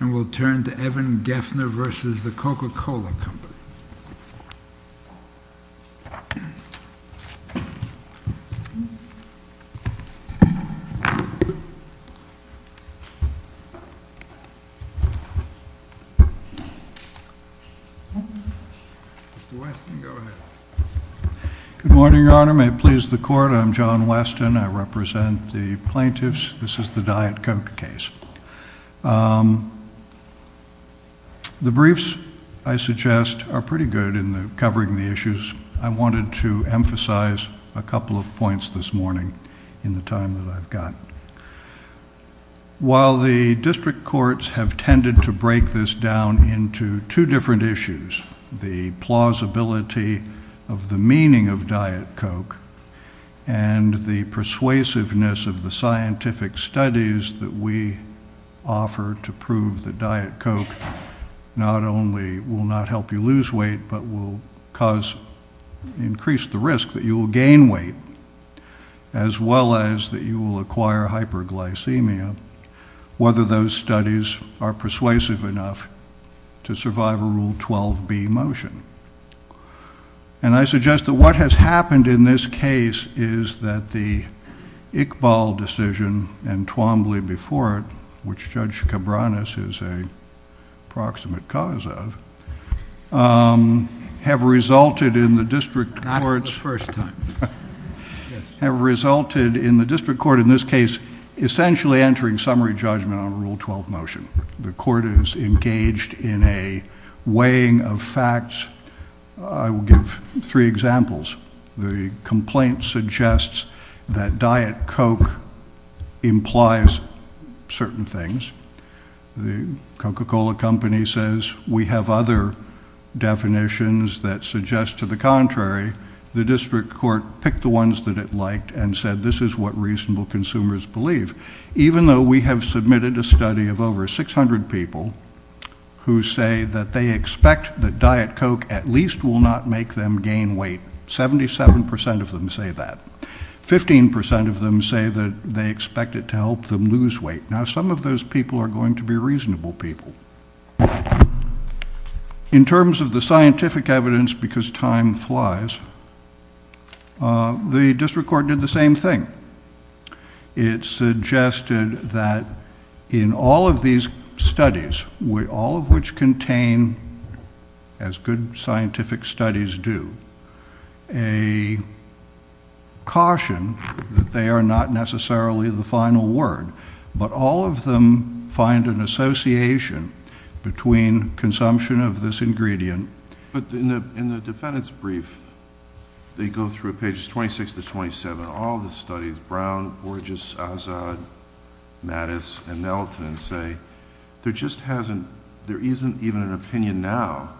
And we'll turn to Evan Geffner v. The Coca-Cola Company. Good morning, Your Honor. May it please the Court, I'm John Weston. I represent the plaintiffs. This is the Diet Coke case. The briefs, I suggest, are pretty good in covering the issues. I wanted to emphasize a couple of points this morning in the time that I've got. While the district courts have tended to break this down into two different issues, the plausibility of the meaning of Diet Coke and the persuasiveness of the scientific studies that we offer to prove that Diet Coke not only will not help you lose weight, but will increase the risk that you will gain weight, as well as that you will acquire hyperglycemia, whether those studies are persuasive enough to survive a Rule 12b motion. And I suggest that what has happened in this case is that the Iqbal decision and Twombly before it, which Judge Cabranes is a proximate cause of, have resulted in the district court in this case essentially entering summary judgment on a Rule 12 motion. The court is engaged in a weighing of facts. I will give three examples. The complaint suggests that Diet Coke implies certain things. The Coca-Cola company says we have other definitions that suggest to the contrary. The district court picked the ones that it liked and said this is what reasonable consumers believe. Even though we have submitted a study of over 600 people who say that they expect that Diet Coke at least will not make them gain weight. Seventy-seven percent of them say that. Fifteen percent of them say that they expect it to help them lose weight. Now some of those people are going to be reasonable people. In terms of the scientific evidence, because time flies, the district court did the same thing. It suggested that in all of these studies, all of which contain, as good scientific studies do, a caution that they are not necessarily the final word, but all of them find an association between consumption of this ingredient. In the defendant's brief, they go through pages 26 to 27. All of the studies, Brown, Borges, Azad, Mattis, and Nelton say there just hasn't... there isn't even an opinion now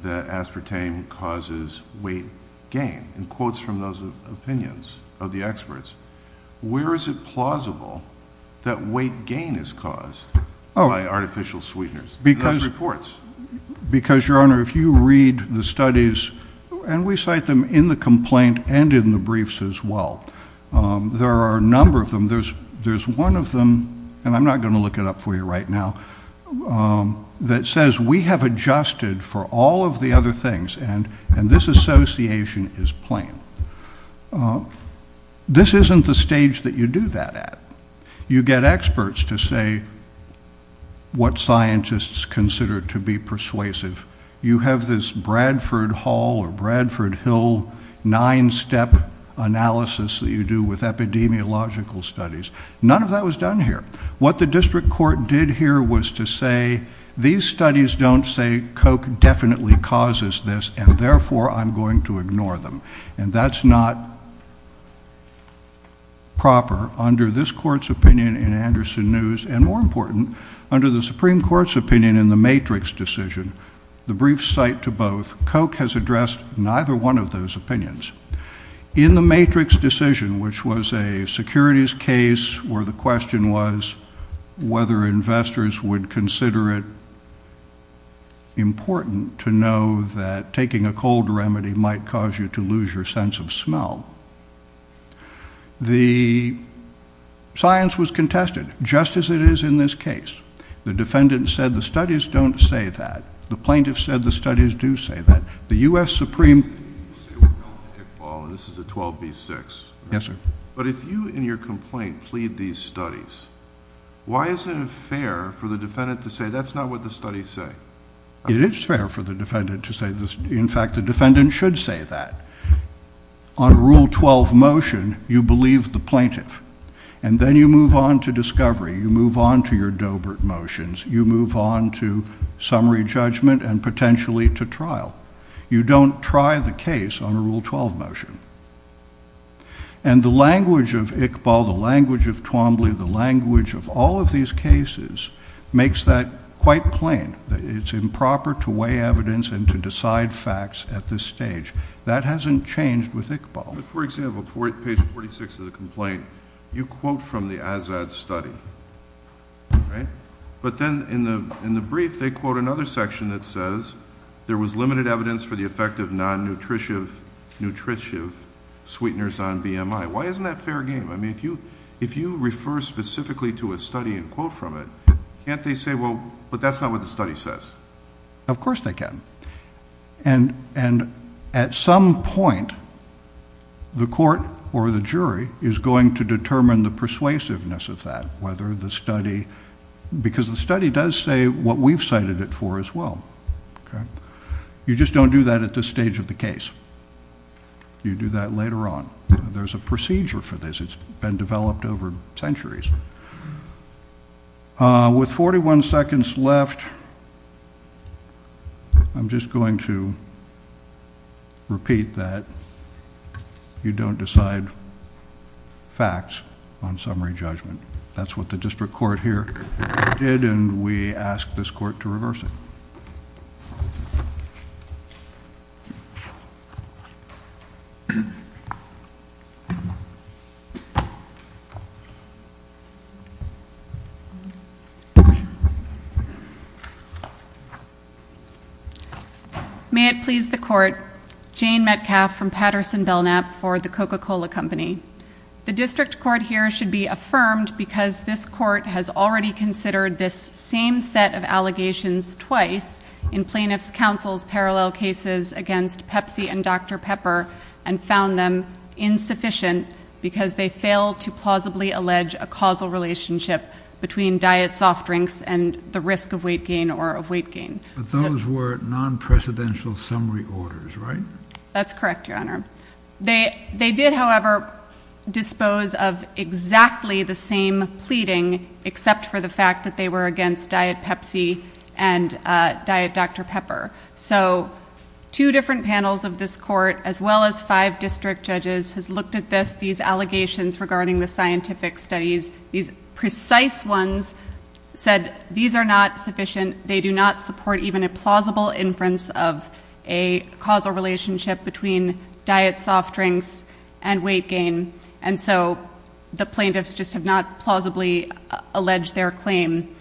that aspartame causes weight gain. In quotes from those opinions of the experts, where is it plausible that weight gain is caused by artificial sweeteners? Because, Your Honor, if you read the studies, and we cite them in the complaint and in the briefs as well, there are a number of them. There's one of them, and I'm not going to look it up for you right now, that says we have adjusted for all of the other things, and this association is plain. This isn't the stage that you do that at. You get experts to say what scientists consider to be persuasive. You have this Bradford Hall or Bradford Hill nine-step analysis that you do with epidemiological studies. None of that was done here. What the district court did here was to say, these studies don't say Coke definitely causes this, and therefore I'm going to ignore them. And that's not proper. Under this court's opinion in Anderson News, and more important, under the Supreme Court's opinion in the Matrix decision, the brief cite to both, Coke has addressed neither one of those opinions. In the Matrix decision, which was a securities case where the question was whether investors would consider it important to know that taking a cold remedy might cause you to lose your sense of smell. The science was contested, just as it is in this case. The defendant said the studies don't say that. The plaintiff said the studies do say that. The U.S. Supreme Court... This is a 12B6. Yes, sir. But if you in your complaint plead these studies, why isn't it fair for the defendant to say that's not what the studies say? It is fair for the defendant to say this. In fact, the defendant should say that. On Rule 12 motion, you believe the plaintiff, and then you move on to discovery. You move on to your Doebert motions. You move on to summary judgment and potentially to trial. You don't try the case on a Rule 12 motion. And the language of Iqbal, the language of Twombly, the language of all of these cases makes that quite plain, that it's improper to weigh evidence and to decide facts at this stage. That hasn't changed with Iqbal. For example, page 46 of the complaint, you quote from the Azad study, right? But then in the brief, they quote another section that says there was limited evidence for the effect of non-nutritive sweeteners on BMI. Why isn't that fair game? I mean, if you refer specifically to a study and quote from it, can't they say, well, but that's not what the study says? Of course they can. And at some point, the court or the jury is going to determine the persuasiveness of that, whether the study, because the study does say what we've cited it for as well. You just don't do that at this stage of the case. You do that later on. There's a procedure for this. It's been developed over centuries. With 41 seconds left, I'm just going to repeat that you don't decide facts on summary judgment. That's what the district court here did, and we ask this court to reverse it. May it please the court. Jane Metcalfe from Patterson Belknap for the Coca-Cola Company. The district court here should be affirmed because this court has already considered this same set of allegations twice in plaintiff's counsel's parallel cases against Pepsi and Dr. Pepper and found them insufficient because they failed to plausibly allege a causal relationship between diet soft drinks and the risk of weight gain or of weight gain. But those were non-precedential summary orders, right? That's correct, Your Honor. They did, however, dispose of exactly the same pleading, except for the fact that they were against diet Pepsi and diet Dr. Pepper. So two different panels of this court, as well as five district judges, has looked at these allegations regarding the scientific studies. These precise ones said these are not sufficient. They do not support even a plausible inference of a causal relationship between diet soft drinks and weight gain. And so the plaintiffs just have not plausibly alleged their claim.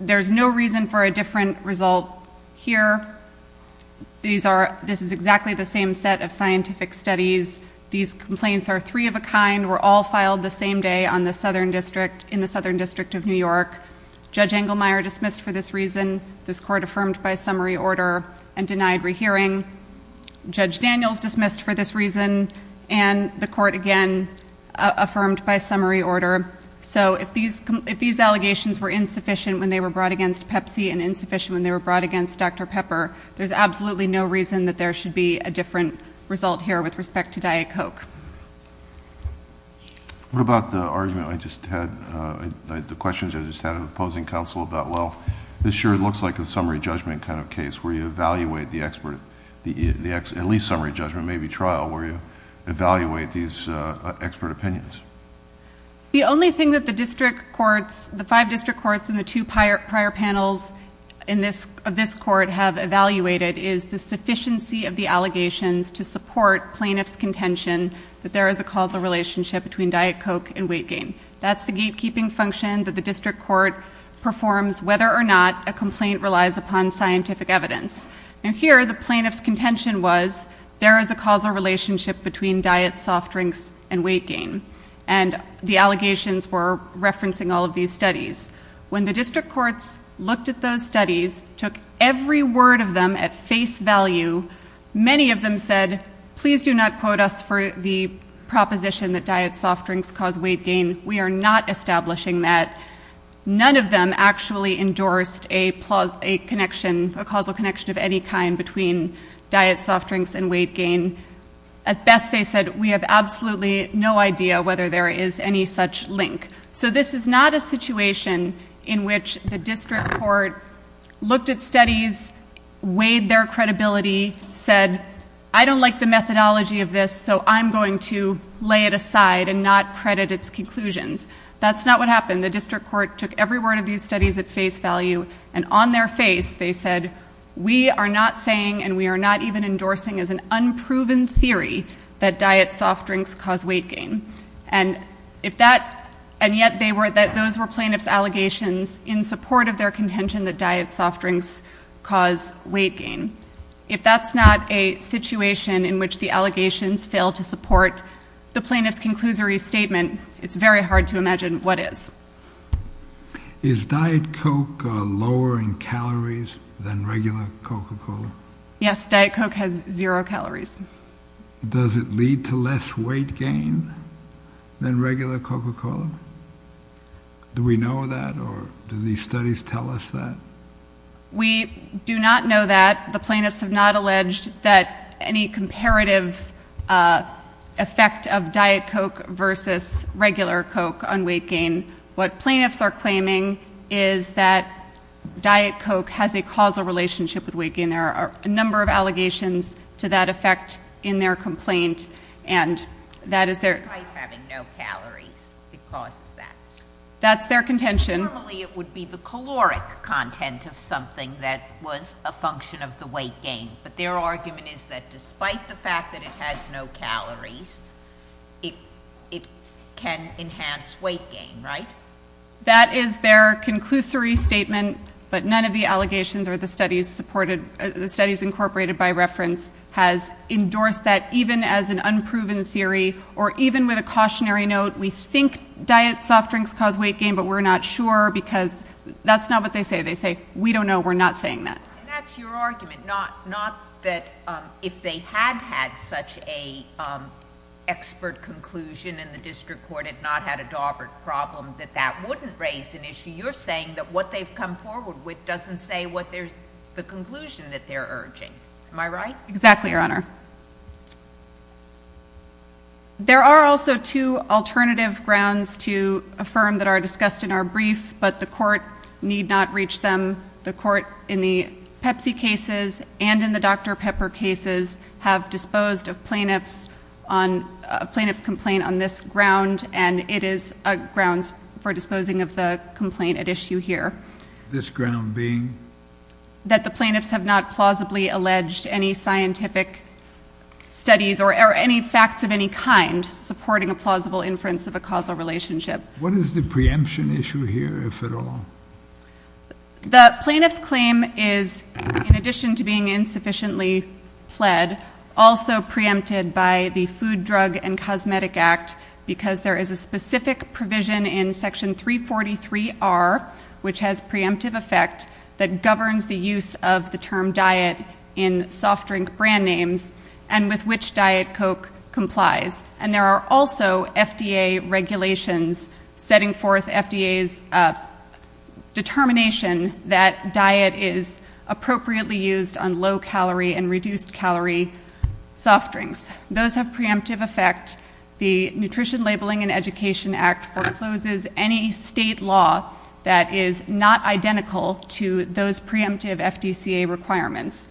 There's no reason for a different result here. This is exactly the same set of scientific studies. These complaints are three of a kind, were all filed the same day in the Southern District of New York. Judge Engelmeyer dismissed for this reason, this court affirmed by summary order, and denied rehearing. Judge Daniels dismissed for this reason, and the court again affirmed by summary order. So if these allegations were insufficient when they were brought against Pepsi, and insufficient when they were brought against Dr. Pepper, there's absolutely no reason that there should be a different result here with respect to diet Coke. What about the argument I just had, the questions I just had of opposing counsel about, well, this sure looks like a summary judgment kind of case where you evaluate the expert, at least summary judgment, maybe trial, where you evaluate these expert opinions. The only thing that the district courts, the five district courts, and the two prior panels of this court have evaluated is the sufficiency of the allegations to support plaintiff's contention that there is a causal relationship between diet Coke and weight gain. That's the gatekeeping function that the district court performs whether or not a complaint relies upon scientific evidence. And here, the plaintiff's contention was there is a causal relationship between diet soft drinks and weight gain. And the allegations were referencing all of these studies. When the district courts looked at those studies, took every word of them at face value, many of them said, please do not quote us for the proposition that diet soft drinks cause weight gain. We are not establishing that. None of them actually endorsed a causal connection of any kind between diet soft drinks and weight gain. At best, they said, we have absolutely no idea whether there is any such link. So this is not a situation in which the district court looked at studies, weighed their credibility, said, I don't like the methodology of this, so I'm going to lay it aside and not credit its conclusions. That's not what happened. The district court took every word of these studies at face value, and on their face, they said, we are not saying and we are not even endorsing as an unproven theory that diet soft drinks cause weight gain. And yet, those were plaintiff's allegations in support of their contention that diet soft drinks cause weight gain. If that's not a situation in which the allegations fail to support the plaintiff's conclusory statement, it's very hard to imagine what is. Is Diet Coke lower in calories than regular Coca-Cola? Yes, Diet Coke has zero calories. Does it lead to less weight gain than regular Coca-Cola? Do we know that, or do these studies tell us that? We do not know that. The plaintiffs have not alleged that any comparative effect of Diet Coke versus regular Coke on weight gain. What plaintiffs are claiming is that Diet Coke has a causal relationship with weight gain. There are a number of allegations to that effect in their complaint, and that is their- It's like having no calories. It causes that. That's their contention. Normally, it would be the caloric content of something that was a function of the weight gain, but their argument is that despite the fact that it has no calories, it can enhance weight gain, right? That is their conclusory statement, but none of the allegations or the studies supported- the studies incorporated by reference has endorsed that even as an unproven theory, or even with a cautionary note, we think diet soft drinks cause weight gain, but we're not sure because that's not what they say. They say, we don't know. We're not saying that. And that's your argument, not that if they had had such an expert conclusion and the district court had not had a Daubert problem, that that wouldn't raise an issue. You're saying that what they've come forward with doesn't say the conclusion that they're urging. Am I right? Exactly, Your Honor. There are also two alternative grounds to affirm that are discussed in our brief, but the court need not reach them. The court in the Pepsi cases and in the Dr. Pepper cases have disposed of plaintiff's complaint on this ground, and it is a grounds for disposing of the complaint at issue here. This ground being? That the plaintiffs have not plausibly alleged any scientific studies or any facts of any kind supporting a plausible inference of a causal relationship. What is the preemption issue here, if at all? The plaintiff's claim is, in addition to being insufficiently pled, also preempted by the Food, Drug, and Cosmetic Act because there is a specific provision in Section 343R, which has preemptive effect, that governs the use of the term diet in soft drink brand names and with which Diet Coke complies. And there are also FDA regulations setting forth FDA's determination that diet is appropriately used on low-calorie and reduced-calorie soft drinks. Those have preemptive effect. The Nutrition Labeling and Education Act forecloses any state law that is not identical to those preemptive FDCA requirements.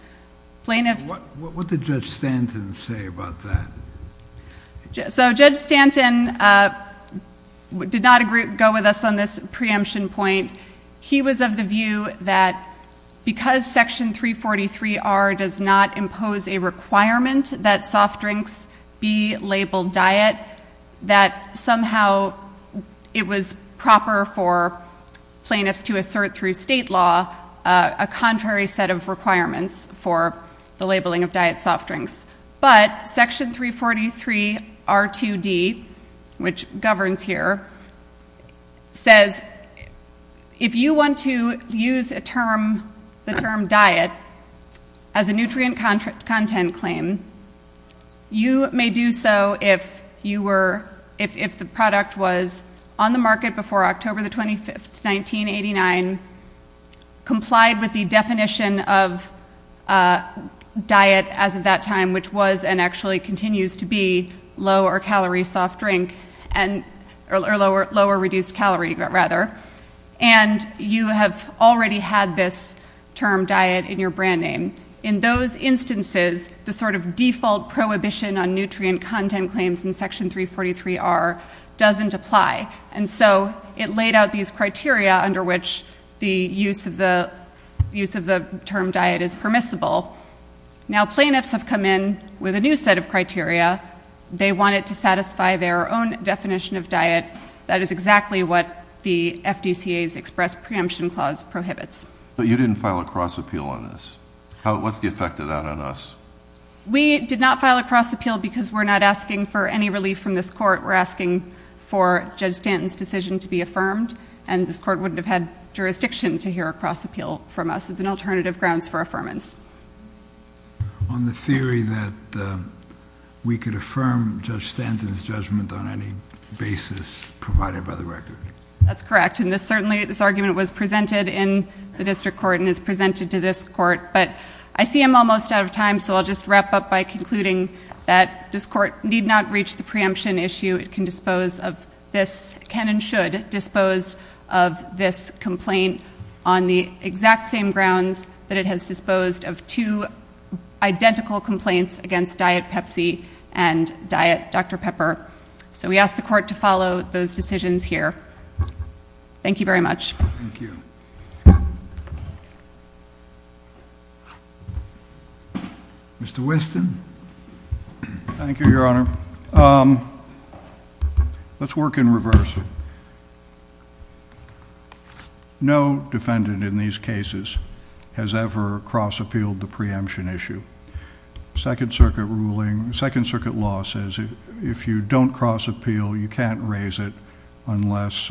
What did Judge Stanton say about that? So Judge Stanton did not go with us on this preemption point. He was of the view that because Section 343R does not impose a requirement that soft drinks be labeled diet, that somehow it was proper for plaintiffs to assert through state law a contrary set of requirements for the labeling of diet soft drinks. But Section 343R2D, which governs here, says if you want to use the term diet as a nutrient content claim, you may do so if the product was on the market before October 25, 1989, complied with the definition of diet as of that time, which was and actually continues to be lower-calorie soft drink, or lower-reduced calorie, rather, and you have already had this term diet in your brand name. In those instances, the sort of default prohibition on nutrient content claims in Section 343R doesn't apply, and so it laid out these criteria under which the use of the term diet is permissible. Now, plaintiffs have come in with a new set of criteria. They want it to satisfy their own definition of diet. That is exactly what the FDCA's express preemption clause prohibits. But you didn't file a cross appeal on this. What's the effect of that on us? We did not file a cross appeal because we're not asking for any relief from this court. We're asking for Judge Stanton's decision to be affirmed, and this court wouldn't have had jurisdiction to hear a cross appeal from us. It's an alternative grounds for affirmance. On the theory that we could affirm Judge Stanton's judgment on any basis provided by the record. That's correct, and certainly this argument was presented in the district court and is presented to this court, but I see I'm almost out of time, so I'll just wrap up by concluding that this court need not reach the preemption issue. It can dispose of this, can and should dispose of this complaint on the exact same grounds that it has disposed of two identical complaints against diet Pepsi and diet Dr. Pepper. So we ask the court to follow those decisions here. Thank you very much. Thank you. Mr. Whiston. Thank you, Your Honor. Let's work in reverse. No defendant in these cases has ever cross appealed the preemption issue. Second circuit ruling, second circuit law says if you don't cross appeal, you can't raise it unless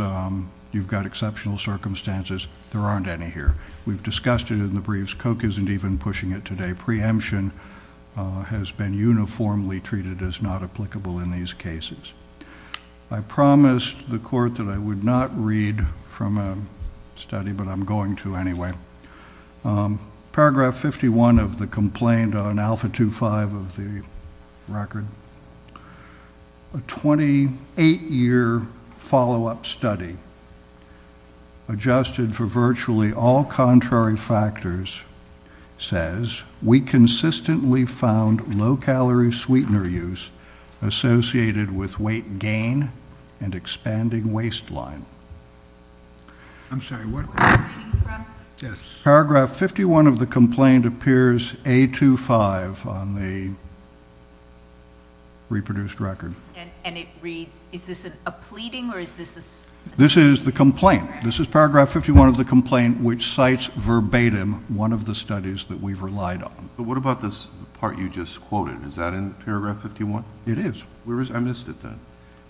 you've got exceptional circumstances. There aren't any here. We've discussed it in the briefs. Koch isn't even pushing it today. Preemption has been uniformly treated as not applicable in these cases. I promised the court that I would not read from a study, but I'm going to anyway. Paragraph 51 of the complaint on Alpha 2.5 of the record, a 28-year follow-up study adjusted for virtually all contrary factors says, we consistently found low-calorie sweetener use associated with weight gain and expanding waistline. I'm sorry, what? Yes. Paragraph 51 of the complaint appears A2.5 on the reproduced record. And it reads, is this a pleading or is this a? This is the complaint. This is paragraph 51 of the complaint, which cites verbatim one of the studies that we've relied on. But what about this part you just quoted? Is that in paragraph 51? It is. I missed it then.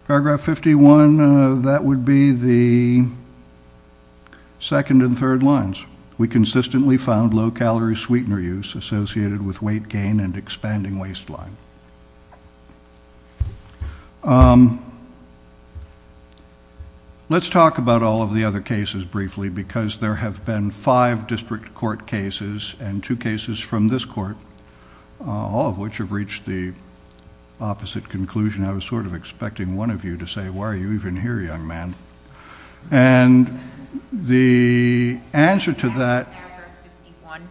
Paragraph 51, that would be the second and third lines. We consistently found low-calorie sweetener use associated with weight gain and expanding waistline. Let's talk about all of the other cases briefly because there have been five district court cases and two cases from this court, all of which have reached the opposite conclusion. I was sort of expecting one of you to say, why are you even here, young man? And the answer to that. In paragraph 51,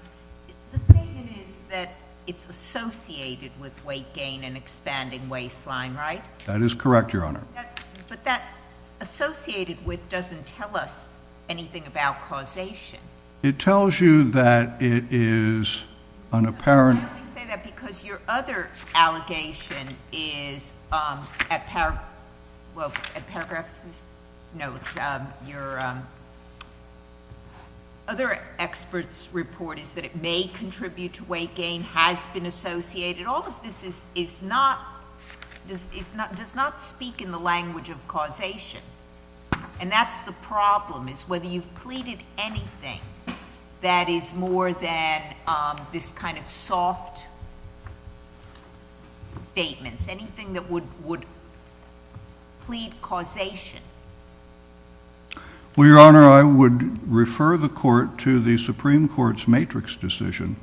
the statement is that it's associated with weight gain and expanding waistline, right? That is correct, Your Honor. But that associated with doesn't tell us anything about causation. It tells you that it is an apparent. I only say that because your other allegation is at paragraph... No, your other expert's report is that it may contribute to weight gain, has been associated. All of this does not speak in the language of causation. And that's the problem, is whether you've pleaded anything that is more than this kind of soft statements. Anything that would plead causation. Well, Your Honor, I would refer the court to the Supreme Court's matrix decision,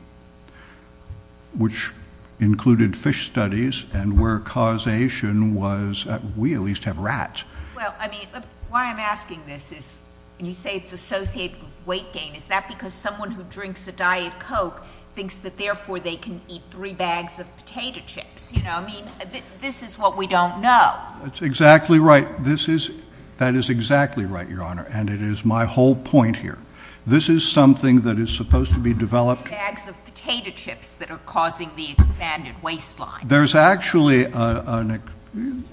which included fish studies and where causation was... we at least have rats. Well, I mean, why I'm asking this is, when you say it's associated with weight gain, is that because someone who drinks a Diet Coke thinks that therefore they can eat three bags of potato chips? You know, I mean, this is what we don't know. That's exactly right. This is... that is exactly right, Your Honor, and it is my whole point here. This is something that is supposed to be developed... Three bags of potato chips that are causing the expanded waistline. There's actually an...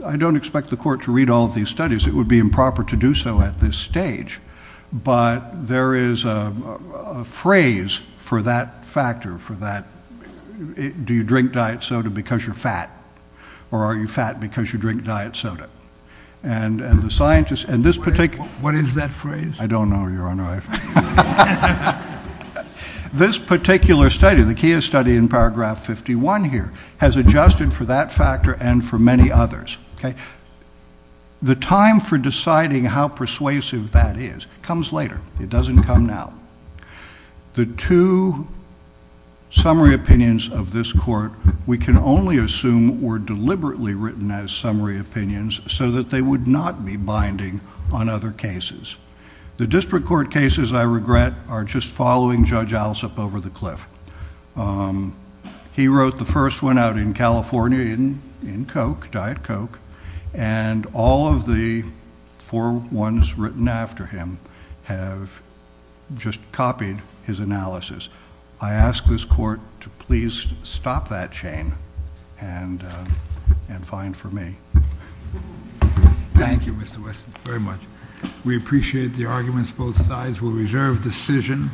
I don't expect the court to read all of these studies. It would be improper to do so at this stage. But there is a phrase for that factor, for that... do you drink diet soda because you're fat? Or are you fat because you drink diet soda? And the scientists... and this particular... What is that phrase? I don't know, Your Honor. This particular study, the Kia study in paragraph 51 here, has adjusted for that factor and for many others. Okay? The time for deciding how persuasive that is comes later. It doesn't come now. The two summary opinions of this court, we can only assume were deliberately written as summary opinions, so that they would not be binding on other cases. The district court cases, I regret, are just following Judge Alsop over the cliff. He wrote the first one out in California in Coke, Diet Coke, and all of the four ones written after him have just copied his analysis. I ask this court to please stop that chain and find for me. Thank you, Mr. Wesson, very much. We appreciate the arguments of both sides. We'll reserve decision.